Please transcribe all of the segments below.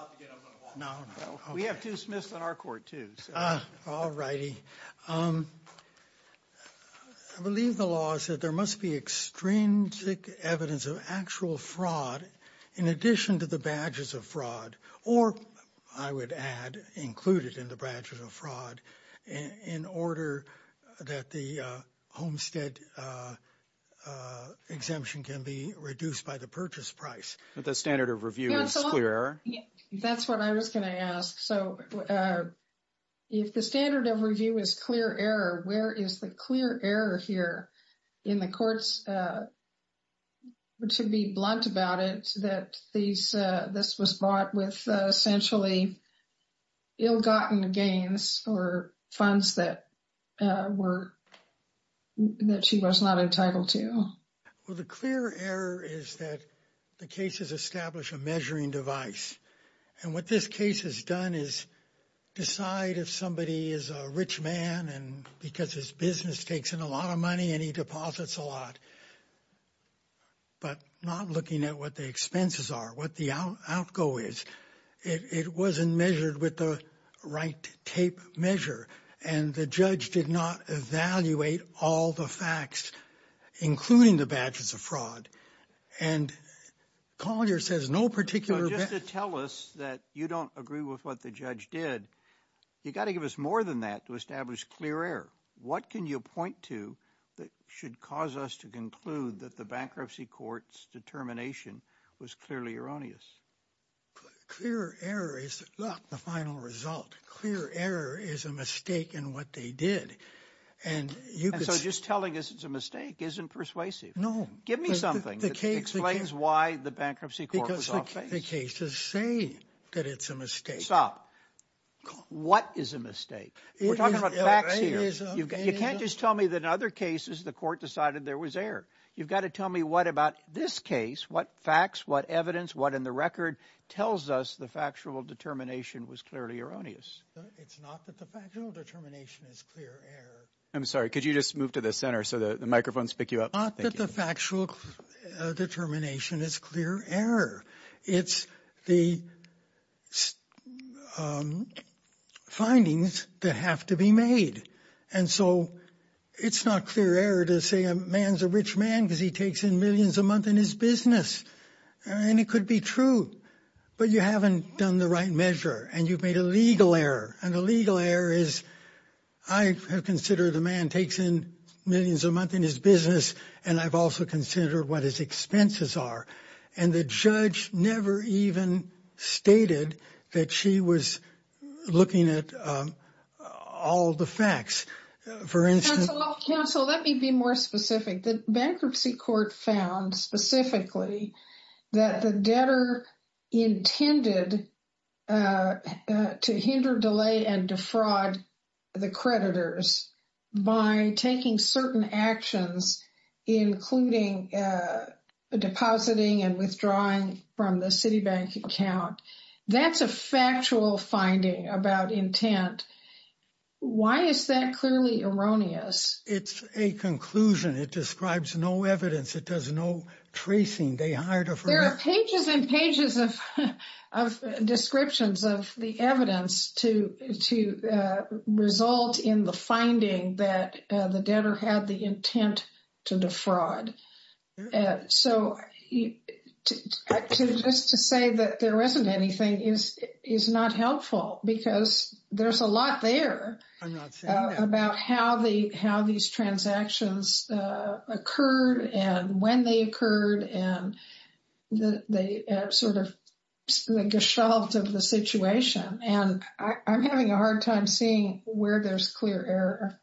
I believe the law said there must be extrinsic evidence of actual fraud in addition to the badges of fraud, or I would add, included in the badges of fraud, in order that the homestead exemption can be reduced by the purchase price. But the standard of review is clear error? That's what I was going to ask. So if the standard of review is clear error, where is the clear error here in the courts, to be blunt about it, that this was brought with essentially ill-gotten gains or funds that she was not entitled to? Well, the clear error is that the cases establish a measuring device. And what this case has done is decide if somebody is a rich man and because his business takes in a lot of money and he deposits a lot, but not looking at what the expenses are, what the outgo is. It wasn't measured with the right tape measure. And the judge did not evaluate all the facts, including the badges of fraud. And Collier says no particular just to tell us that you don't agree with what the judge did. You got to give us more than that to establish clear error. What can you point to that should cause us to conclude that the bankruptcy court's determination was clearly erroneous? Clear error is not the final result. Clear error is a mistake in what they did. And so just telling us it's a mistake isn't persuasive. No. Give me something that explains why the bankruptcy court was off base. Because the cases say that it's a mistake. Stop. What is a mistake? We're talking about facts here. You can't just tell me that in other cases the court decided there was error. You've got to tell me what about this case, what facts, what evidence, what in the record tells us the factual determination was clearly erroneous. It's not that the factual determination is clear error. I'm sorry. Could you just move to the center so the microphones pick you up? Not that the factual determination is clear error. It's the findings that have to be made. And so it's not clear error to say a man's a rich man because he takes in millions a month in his business. And it could be true. But you haven't done the right measure and you've made a legal error. And the legal error is I have considered the man takes in millions a month in his business and I've also considered what his expenses are. And the judge never even stated that she was looking at all the facts, for instance. So let me be more specific. The bankruptcy court found specifically that the debtor intended to hinder, delay and defraud the creditors by taking certain actions, including depositing and withdrawing from the Citibank account. That's a factual finding about intent. Why is that clearly erroneous? It's a conclusion. It describes no evidence. It does no tracing. They hired a there are pages and pages of descriptions of the evidence to to result in the finding that the debtor had the intent to defraud. So just to say that there isn't anything is is not helpful because there's a lot there about how the how these transactions occurred and when they occurred. And they sort of like a shelved of the situation. And I'm having a hard time seeing where there's clear error.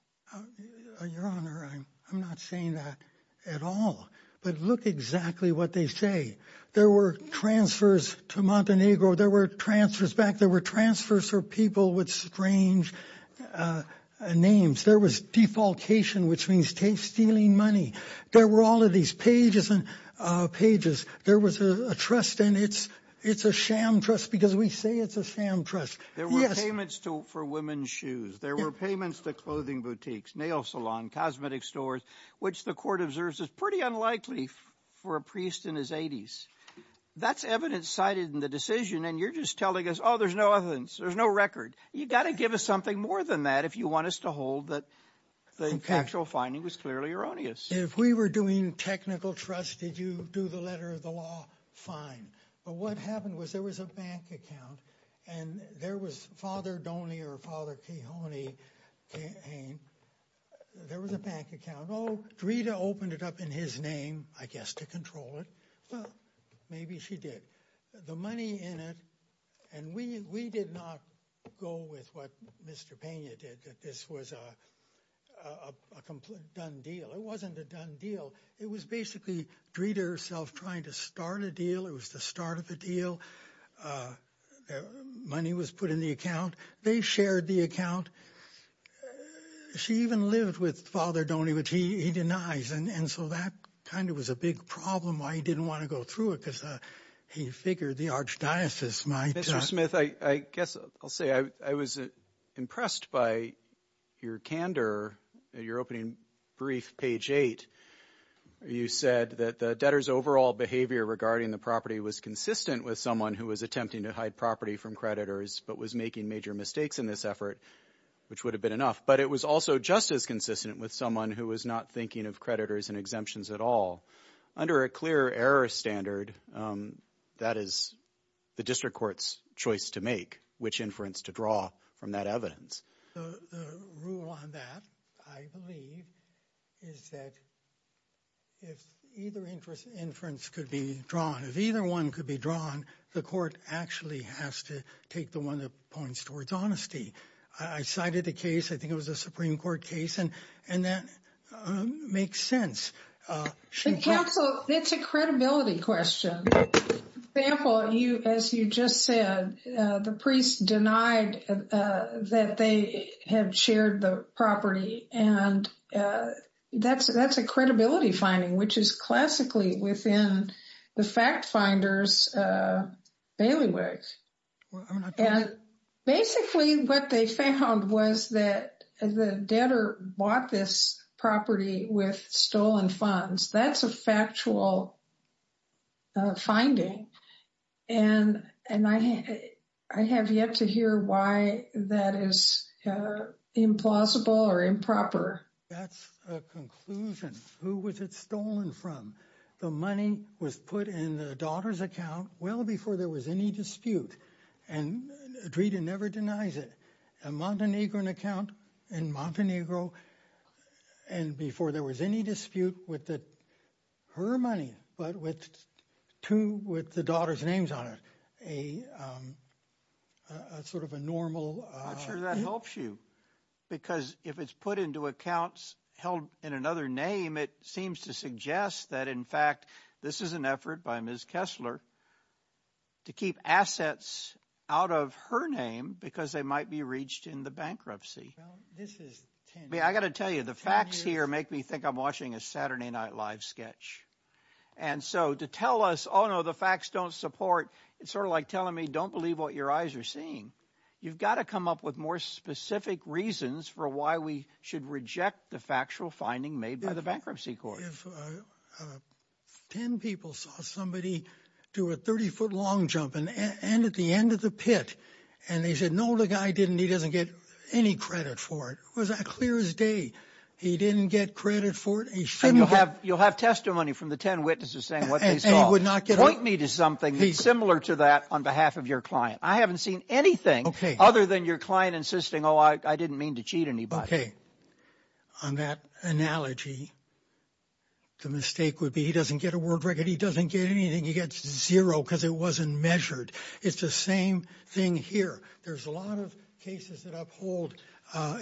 Your Honor, I'm not saying that at all. But look exactly what they say. There were transfers to Montenegro. There were transfers back. There were transfers for people with strange names. There was defalcation, which means stealing money. There were all of these pages and pages. There was a trust and it's it's a sham trust because we say it's a sham trust. There were payments to for women's shoes. There were payments to clothing boutiques, nail salon, cosmetic stores, which the court observes is pretty unlikely for a priest in his 80s. That's evidence cited in the decision. And you're just telling us, oh, there's no evidence. There's no record. You got to give us something more than that. If you want us to hold that the factual finding was clearly erroneous. If we were doing technical trust, did you do the letter of the law? Fine. But what happened was there was a bank account and there was father Donnie or father Kehoney. There was a bank account. Oh, Rita opened it up in his name, I guess, to control it. Maybe she did the money in it. And we we did not go with what Mr. Pena did. This was a complete done deal. It wasn't a done deal. It was basically treated herself trying to start a deal. It was the start of a deal. Money was put in the account. They shared the account. She even lived with father Donnie, which he denies. And so that kind of was a big problem why he didn't want to go through it because he figured the archdiocese might. Mr. Smith, I guess I'll say I was impressed by your candor. You're opening brief page eight. You said that the debtor's overall behavior regarding the property was consistent with someone who was attempting to hide property from creditors, but was making major mistakes in this effort, which would have been enough. But it was also just as consistent with someone who was not thinking of creditors and exemptions at all under a clear error standard. That is the district court's choice to make which inference to draw from that evidence. The rule on that, I believe, is that. If either interest inference could be drawn, if either one could be drawn, the court actually has to take the one that points towards honesty. I cited the case. I think it was a Supreme Court case. And and that makes sense. So it's a credibility question. Well, you as you just said, the priest denied that they had shared the property. And that's that's a credibility finding, which is classically within the fact finders. And basically what they found was that the debtor bought this property with stolen funds. That's a factual. Finding and and I have yet to hear why that is implausible or improper. That's a conclusion. Who was it stolen from? The money was put in the daughter's account. Well, before there was any dispute. And Drita never denies it. A Montenegrin account in Montenegro. And before there was any dispute with that, her money, but with two with the daughter's names on it, a sort of a normal. I'm sure that helps you, because if it's put into accounts held in another name, it seems to suggest that, in fact, this is an effort by Ms. Kessler. To keep assets out of her name because they might be reached in the bankruptcy. This is me. I got to tell you, the facts here make me think I'm watching a Saturday Night Live sketch. And so to tell us, oh, no, the facts don't support. It's sort of like telling me, don't believe what your eyes are seeing. You've got to come up with more specific reasons for why we should reject the factual finding made by the bankruptcy court. Ten people saw somebody do a 30 foot long jump in and at the end of the pit. And they said, no, the guy didn't. He doesn't get any credit for it. Was that clear as day? He didn't get credit for it. He shouldn't have. You'll have testimony from the 10 witnesses saying what they would not get. Point me to something similar to that on behalf of your client. I haven't seen anything other than your client insisting, oh, I didn't mean to cheat anybody. On that analogy. The mistake would be he doesn't get a word record, he doesn't get anything, he gets zero because it wasn't measured. It's the same thing here. There's a lot of cases that uphold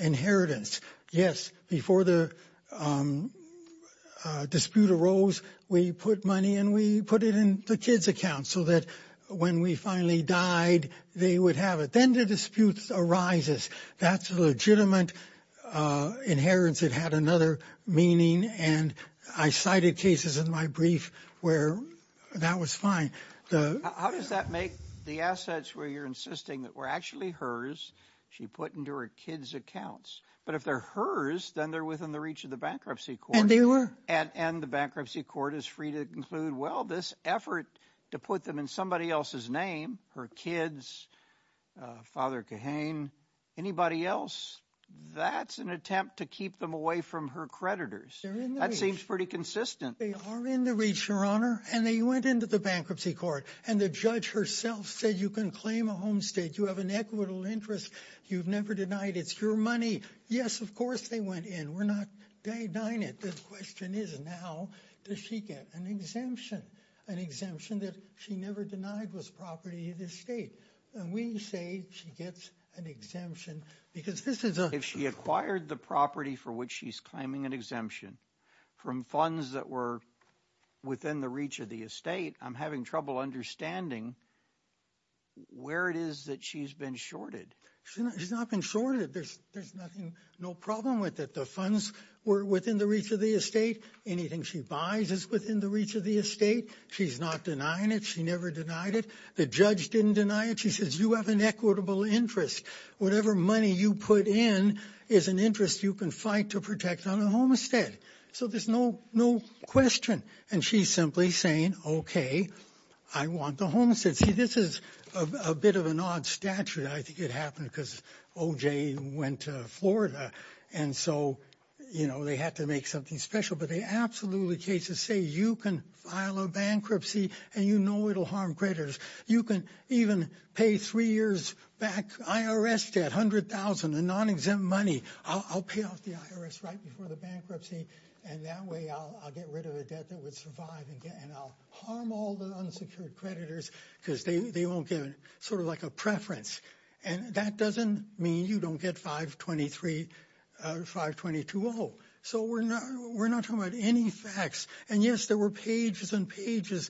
inheritance. Yes. Before the dispute arose, we put money and we put it in the kids account so that when we finally died, they would have it. Then the disputes arises. That's a legitimate inheritance. It had another meaning. And I cited cases in my brief where that was fine. How does that make the assets where you're insisting that were actually hers? She put into her kids accounts. But if they're hers, then they're within the reach of the bankruptcy court. And they were. And the bankruptcy court is free to conclude. Well, this effort to put them in somebody else's name, her kids, Father Kahane, anybody else. That's an attempt to keep them away from her creditors. That seems pretty consistent. They are in the reach, Your Honor. And they went into the bankruptcy court and the judge herself said you can claim a home state. You have an equitable interest. You've never denied it's your money. Yes, of course. They went in. We're not denying it. The question is now, does she get an exemption? An exemption that she never denied was property of the state. And we say she gets an exemption because this is if she acquired the property for which she's claiming an exemption from funds that were within the reach of the estate. I'm having trouble understanding where it is that she's been shorted. She's not been shorted. There's there's nothing no problem with that. The funds were within the reach of the estate. Anything she buys is within the reach of the estate. She's not denying it. She never denied it. The judge didn't deny it. She says you have an equitable interest. Whatever money you put in is an interest you can fight to protect on a homestead. So there's no no question. And she's simply saying, OK, I want the homestead. See, this is a bit of an odd statute. I think it happened because O.J. went to Florida. And so, you know, they had to make something special. But they absolutely cases say you can file a bankruptcy and, you know, it'll harm creditors. You can even pay three years back IRS debt, $100,000 in non-exempt money. I'll pay off the IRS right before the bankruptcy. And that way I'll get rid of a debt that would survive. And I'll harm all the unsecured creditors because they won't get sort of like a preference. And that doesn't mean you don't get 523, 522-0. So we're not we're not talking about any facts. And, yes, there were pages and pages.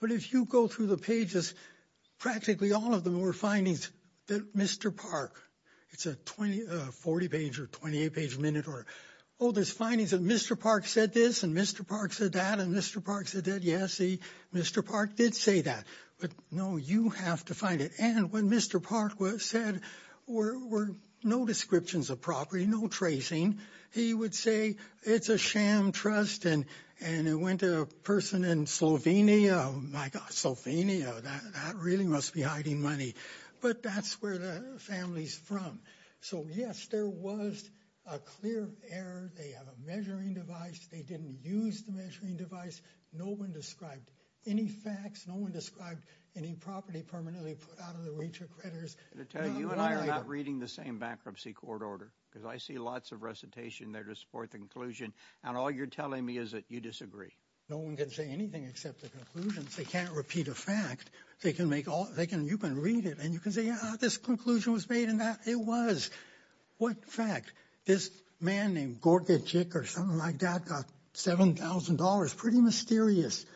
But if you go through the pages, practically all of them were findings that Mr. Park, it's a 20, 40 page or 28 page minute or oldest findings. And Mr. Park said this and Mr. Park said that. And Mr. Park said that. Yes. Mr. Park did say that. But, no, you have to find it. And when Mr. Park was said or were no descriptions of property, no tracing, he would say it's a sham trust. And and it went to a person in Slovenia. Oh, my God, Slovenia. That really must be hiding money. But that's where the family's from. So, yes, there was a clear error. They have a measuring device. They didn't use the measuring device. No one described any facts. No one described any property permanently put out of the reach of creditors. You and I are not reading the same bankruptcy court order because I see lots of recitation there to support the conclusion. And all you're telling me is that you disagree. No one can say anything except the conclusions. They can't repeat a fact. They can make all they can. You can read it and you can say, yeah, this conclusion was made in that. It was what fact this man named Gorka or something like that. Seven thousand dollars. Pretty mysterious.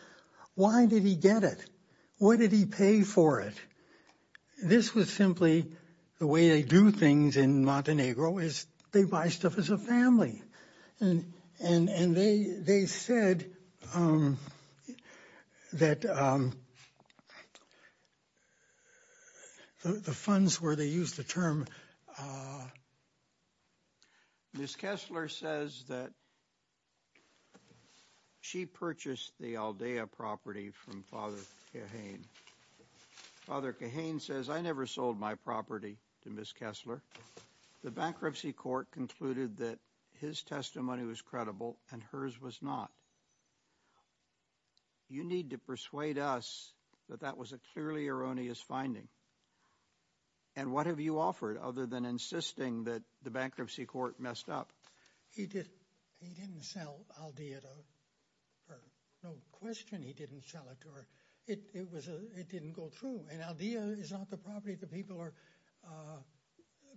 Why did he get it? What did he pay for it? This was simply the way they do things in Montenegro is they buy stuff as a family. And and they they said that the funds where they use the term. Miss Kessler says that. She purchased the Aldea property from father. Cahane father Cahane says I never sold my property to Miss Kessler. The bankruptcy court concluded that his testimony was credible and hers was not. You need to persuade us that that was a clearly erroneous finding. And what have you offered other than insisting that the bankruptcy court messed up? He did. He didn't sell Aldea to her. No question. He didn't sell it to her. It was it didn't go through. And Aldea is not the property that people are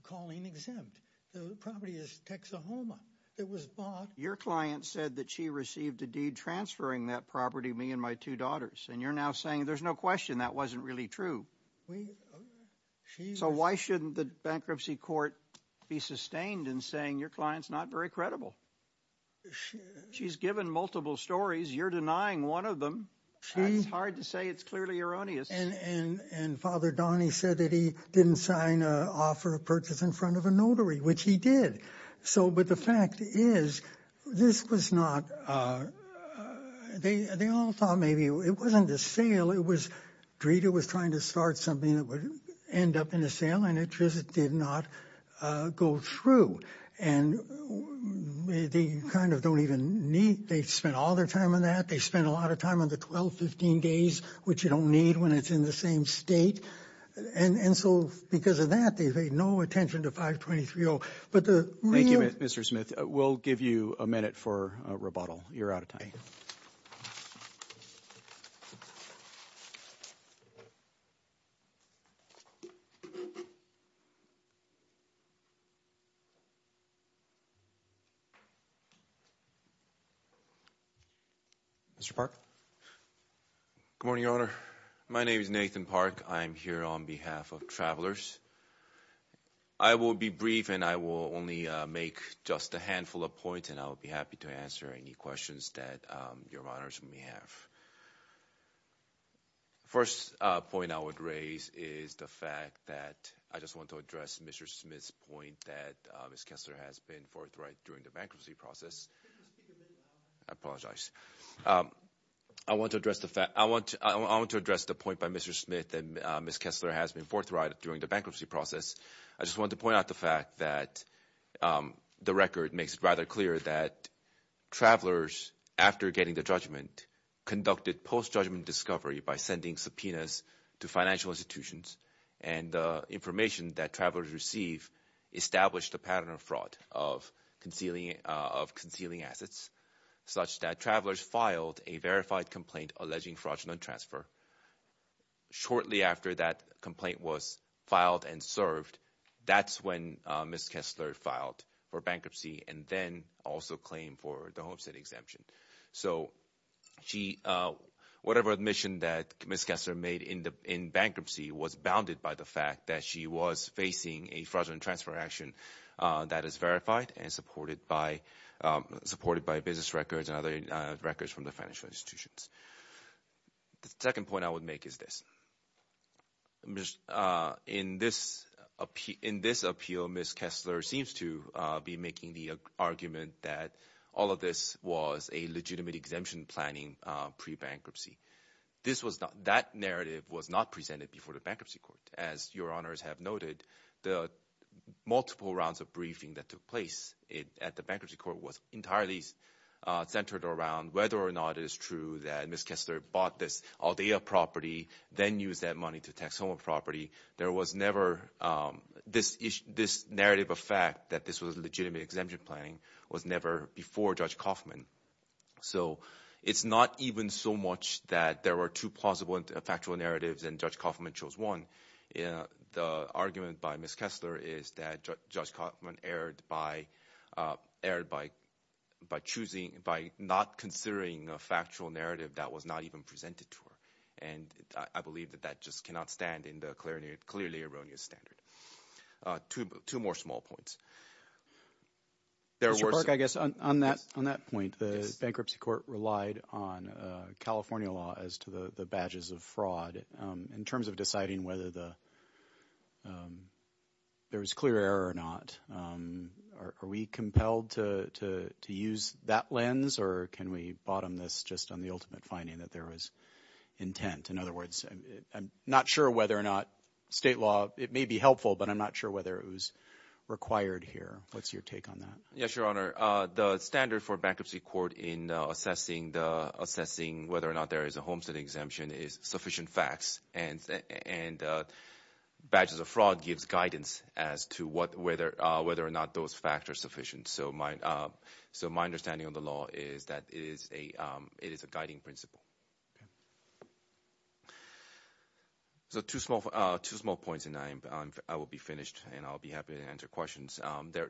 calling exempt. The property is Texahoma. It was bought. Your client said that she received a deed transferring that property, me and my two daughters. And you're now saying there's no question that wasn't really true. So why shouldn't the bankruptcy court be sustained in saying your client's not very credible? She's given multiple stories. You're denying one of them. She's hard to say. It's clearly erroneous. And father Donnie said that he didn't sign an offer of purchase in front of a notary, which he did. So but the fact is, this was not they all thought maybe it wasn't a sale. It was Greta was trying to start something that would end up in a sale and it just did not go through. And they kind of don't even need they spent all their time on that. They spent a lot of time on the 12, 15 days, which you don't need when it's in the same state. And so because of that, they pay no attention to 523. But thank you, Mr. Smith. We'll give you a minute for rebuttal. You're out of time. Mr. Park. Good morning, Your Honor. My name is Nathan Park. I'm here on behalf of travelers. I will be brief and I will only make just a handful of points and I'll be happy to answer any questions that your honors may have. First point I would raise is the fact that I just want to address Mr. Smith's point that Miss Kessler has been forthright during the bankruptcy process. I apologize. I want to address the fact I want to address the point by Mr. Smith and Miss Kessler has been forthright during the bankruptcy process. I just want to point out the fact that the record makes it rather clear that travelers, after getting the judgment, conducted post judgment discovery by sending subpoenas to financial institutions and the information that travelers receive established a pattern of fraud of concealing of concealing assets such that travelers filed a verified complaint alleging fraudulent transfer. Shortly after that complaint was filed and served. That's when Miss Kessler filed for bankruptcy and then also claim for the homestead exemption. So she whatever admission that Miss Kessler made in bankruptcy was bounded by the fact that she was facing a fraudulent transfer action that is verified and supported by supported by business records and other records from the financial institutions. The second point I would make is this. In this in this appeal Miss Kessler seems to be making the argument that all of this was a legitimate exemption planning pre bankruptcy. This was not that narrative was not presented before the bankruptcy court. As your honors have noted the multiple rounds of briefing that took place at the bankruptcy court was entirely centered around whether or not it is true that Miss Kessler bought this property then use that money to tax home property. There was never this this narrative of fact that this was a legitimate exemption planning was never before Judge Kaufman. So it's not even so much that there were two plausible factual narratives and Judge Kaufman chose one. The argument by Miss Kessler is that Judge Kaufman erred by erred by by choosing by not considering a factual narrative that was not even presented to her. And I believe that that just cannot stand in the clarinet clearly erroneous standard to two more small points. There were I guess on that on that point the bankruptcy court relied on California law as to the badges of fraud in terms of deciding whether there was clear error or not. Are we compelled to use that lens or can we bottom this just on the ultimate finding that there was intent. In other words I'm not sure whether or not state law. It may be helpful but I'm not sure whether it was required here. What's your take on that. Yes Your Honor. The standard for bankruptcy court in assessing the assessing whether or not there is a homestead exemption is sufficient facts and and badges of fraud gives guidance as to what whether whether or not those factors sufficient. So my so my understanding of the law is that it is a it is a guiding principle. So two small two small points and I will be finished and I'll be happy to answer questions.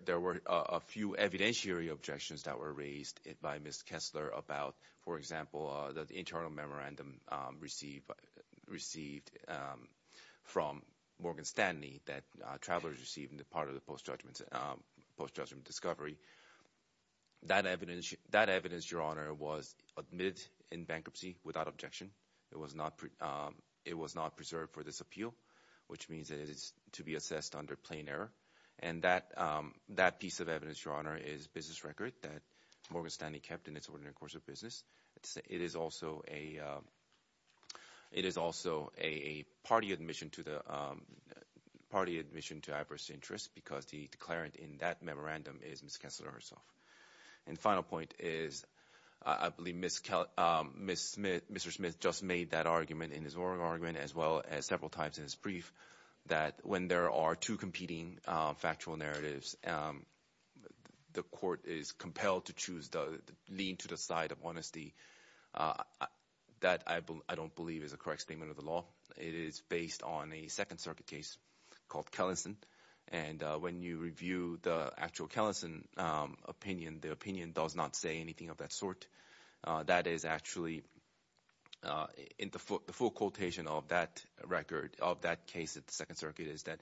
There were a few evidentiary objections that were raised by Miss Kessler about for example the internal memorandum received received from Morgan Stanley that travelers receiving the part of the post judgment post judgment discovery. That evidence that evidence Your Honor was admitted in bankruptcy without objection. It was not it was not preserved for this appeal which means that it is to be assessed under plain error. And that that piece of evidence Your Honor is business record that Morgan Stanley kept in its ordinary course of business. It is also a it is also a party admission to the party admission to adverse interest because the declarant in that memorandum is Miss Kessler herself. And the final point is I believe Miss Smith Mr. Smith just made that argument in his oral argument as well as several times in his brief that when there are two competing factual narratives the court is compelled to choose the lean to the side of honesty that I don't believe is a correct statement of the law. It is based on a Second Circuit case called Kellison. And when you review the actual Kellison opinion the opinion does not say anything of that sort. That is actually in the foot the full quotation of that record of that case at the Second Circuit is that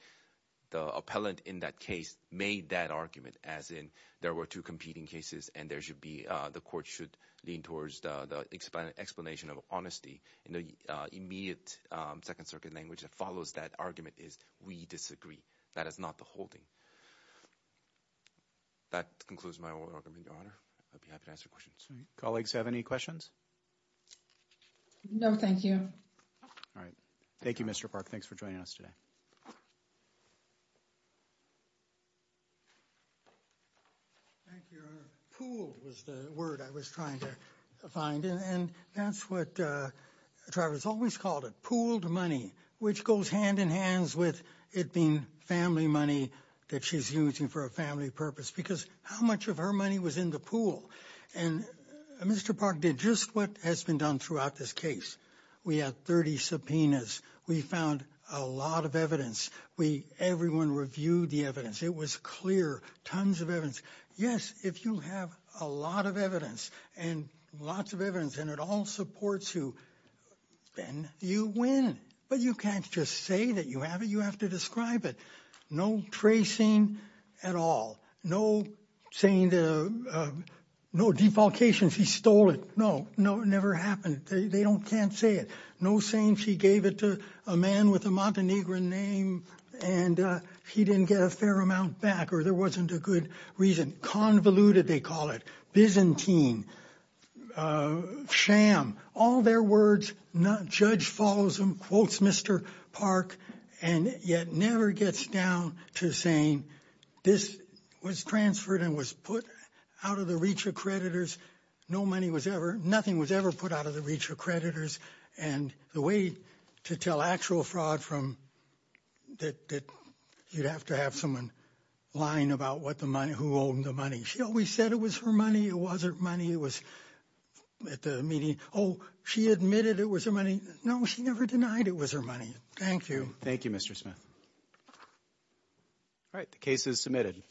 the appellant in that case made that argument as in there were two competing cases and there should be the court should lean towards the expanded explanation of honesty. And the immediate Second Circuit language that follows that argument is we disagree. That is not the holding that concludes my oral argument. Your Honor I'd be happy to answer questions. Colleagues have any questions. No thank you. All right. Thank you Mr. Park. Thanks for joining us today. Thank you. Pool was the word I was trying to find. And that's what I was always called a pooled money which goes hand in hands with it being family money that she's using for a family purpose because how much of her money was in the pool. And Mr. Park did just what has been done throughout this case. We had 30 subpoenas. We found a lot of evidence. We everyone reviewed the evidence. It was clear. Tons of evidence. Yes. If you have a lot of evidence and lots of evidence and it all supports you then you win. But you can't just say that you have it. You have to describe it. No tracing at all. No saying no defalcations. He stole it. No no never happened. They don't can't say it. No saying she gave it to a man with a Montenegrin name and he didn't get a fair amount back or there wasn't a good reason convoluted. They call it Byzantine sham. All their words. Judge follows him quotes Mr. Park and yet never gets down to saying this was transferred and was put out of the reach of creditors. No money was ever nothing was ever put out of the reach of creditors. And the way to tell actual fraud from that you'd have to have someone lying about what the money who owned the money. She always said it was her money. It wasn't money. It was at the meeting. Oh she admitted it was her money. No she never denied it was her money. Thank you. Thank you Mr. Smith. All right. The case is submitted.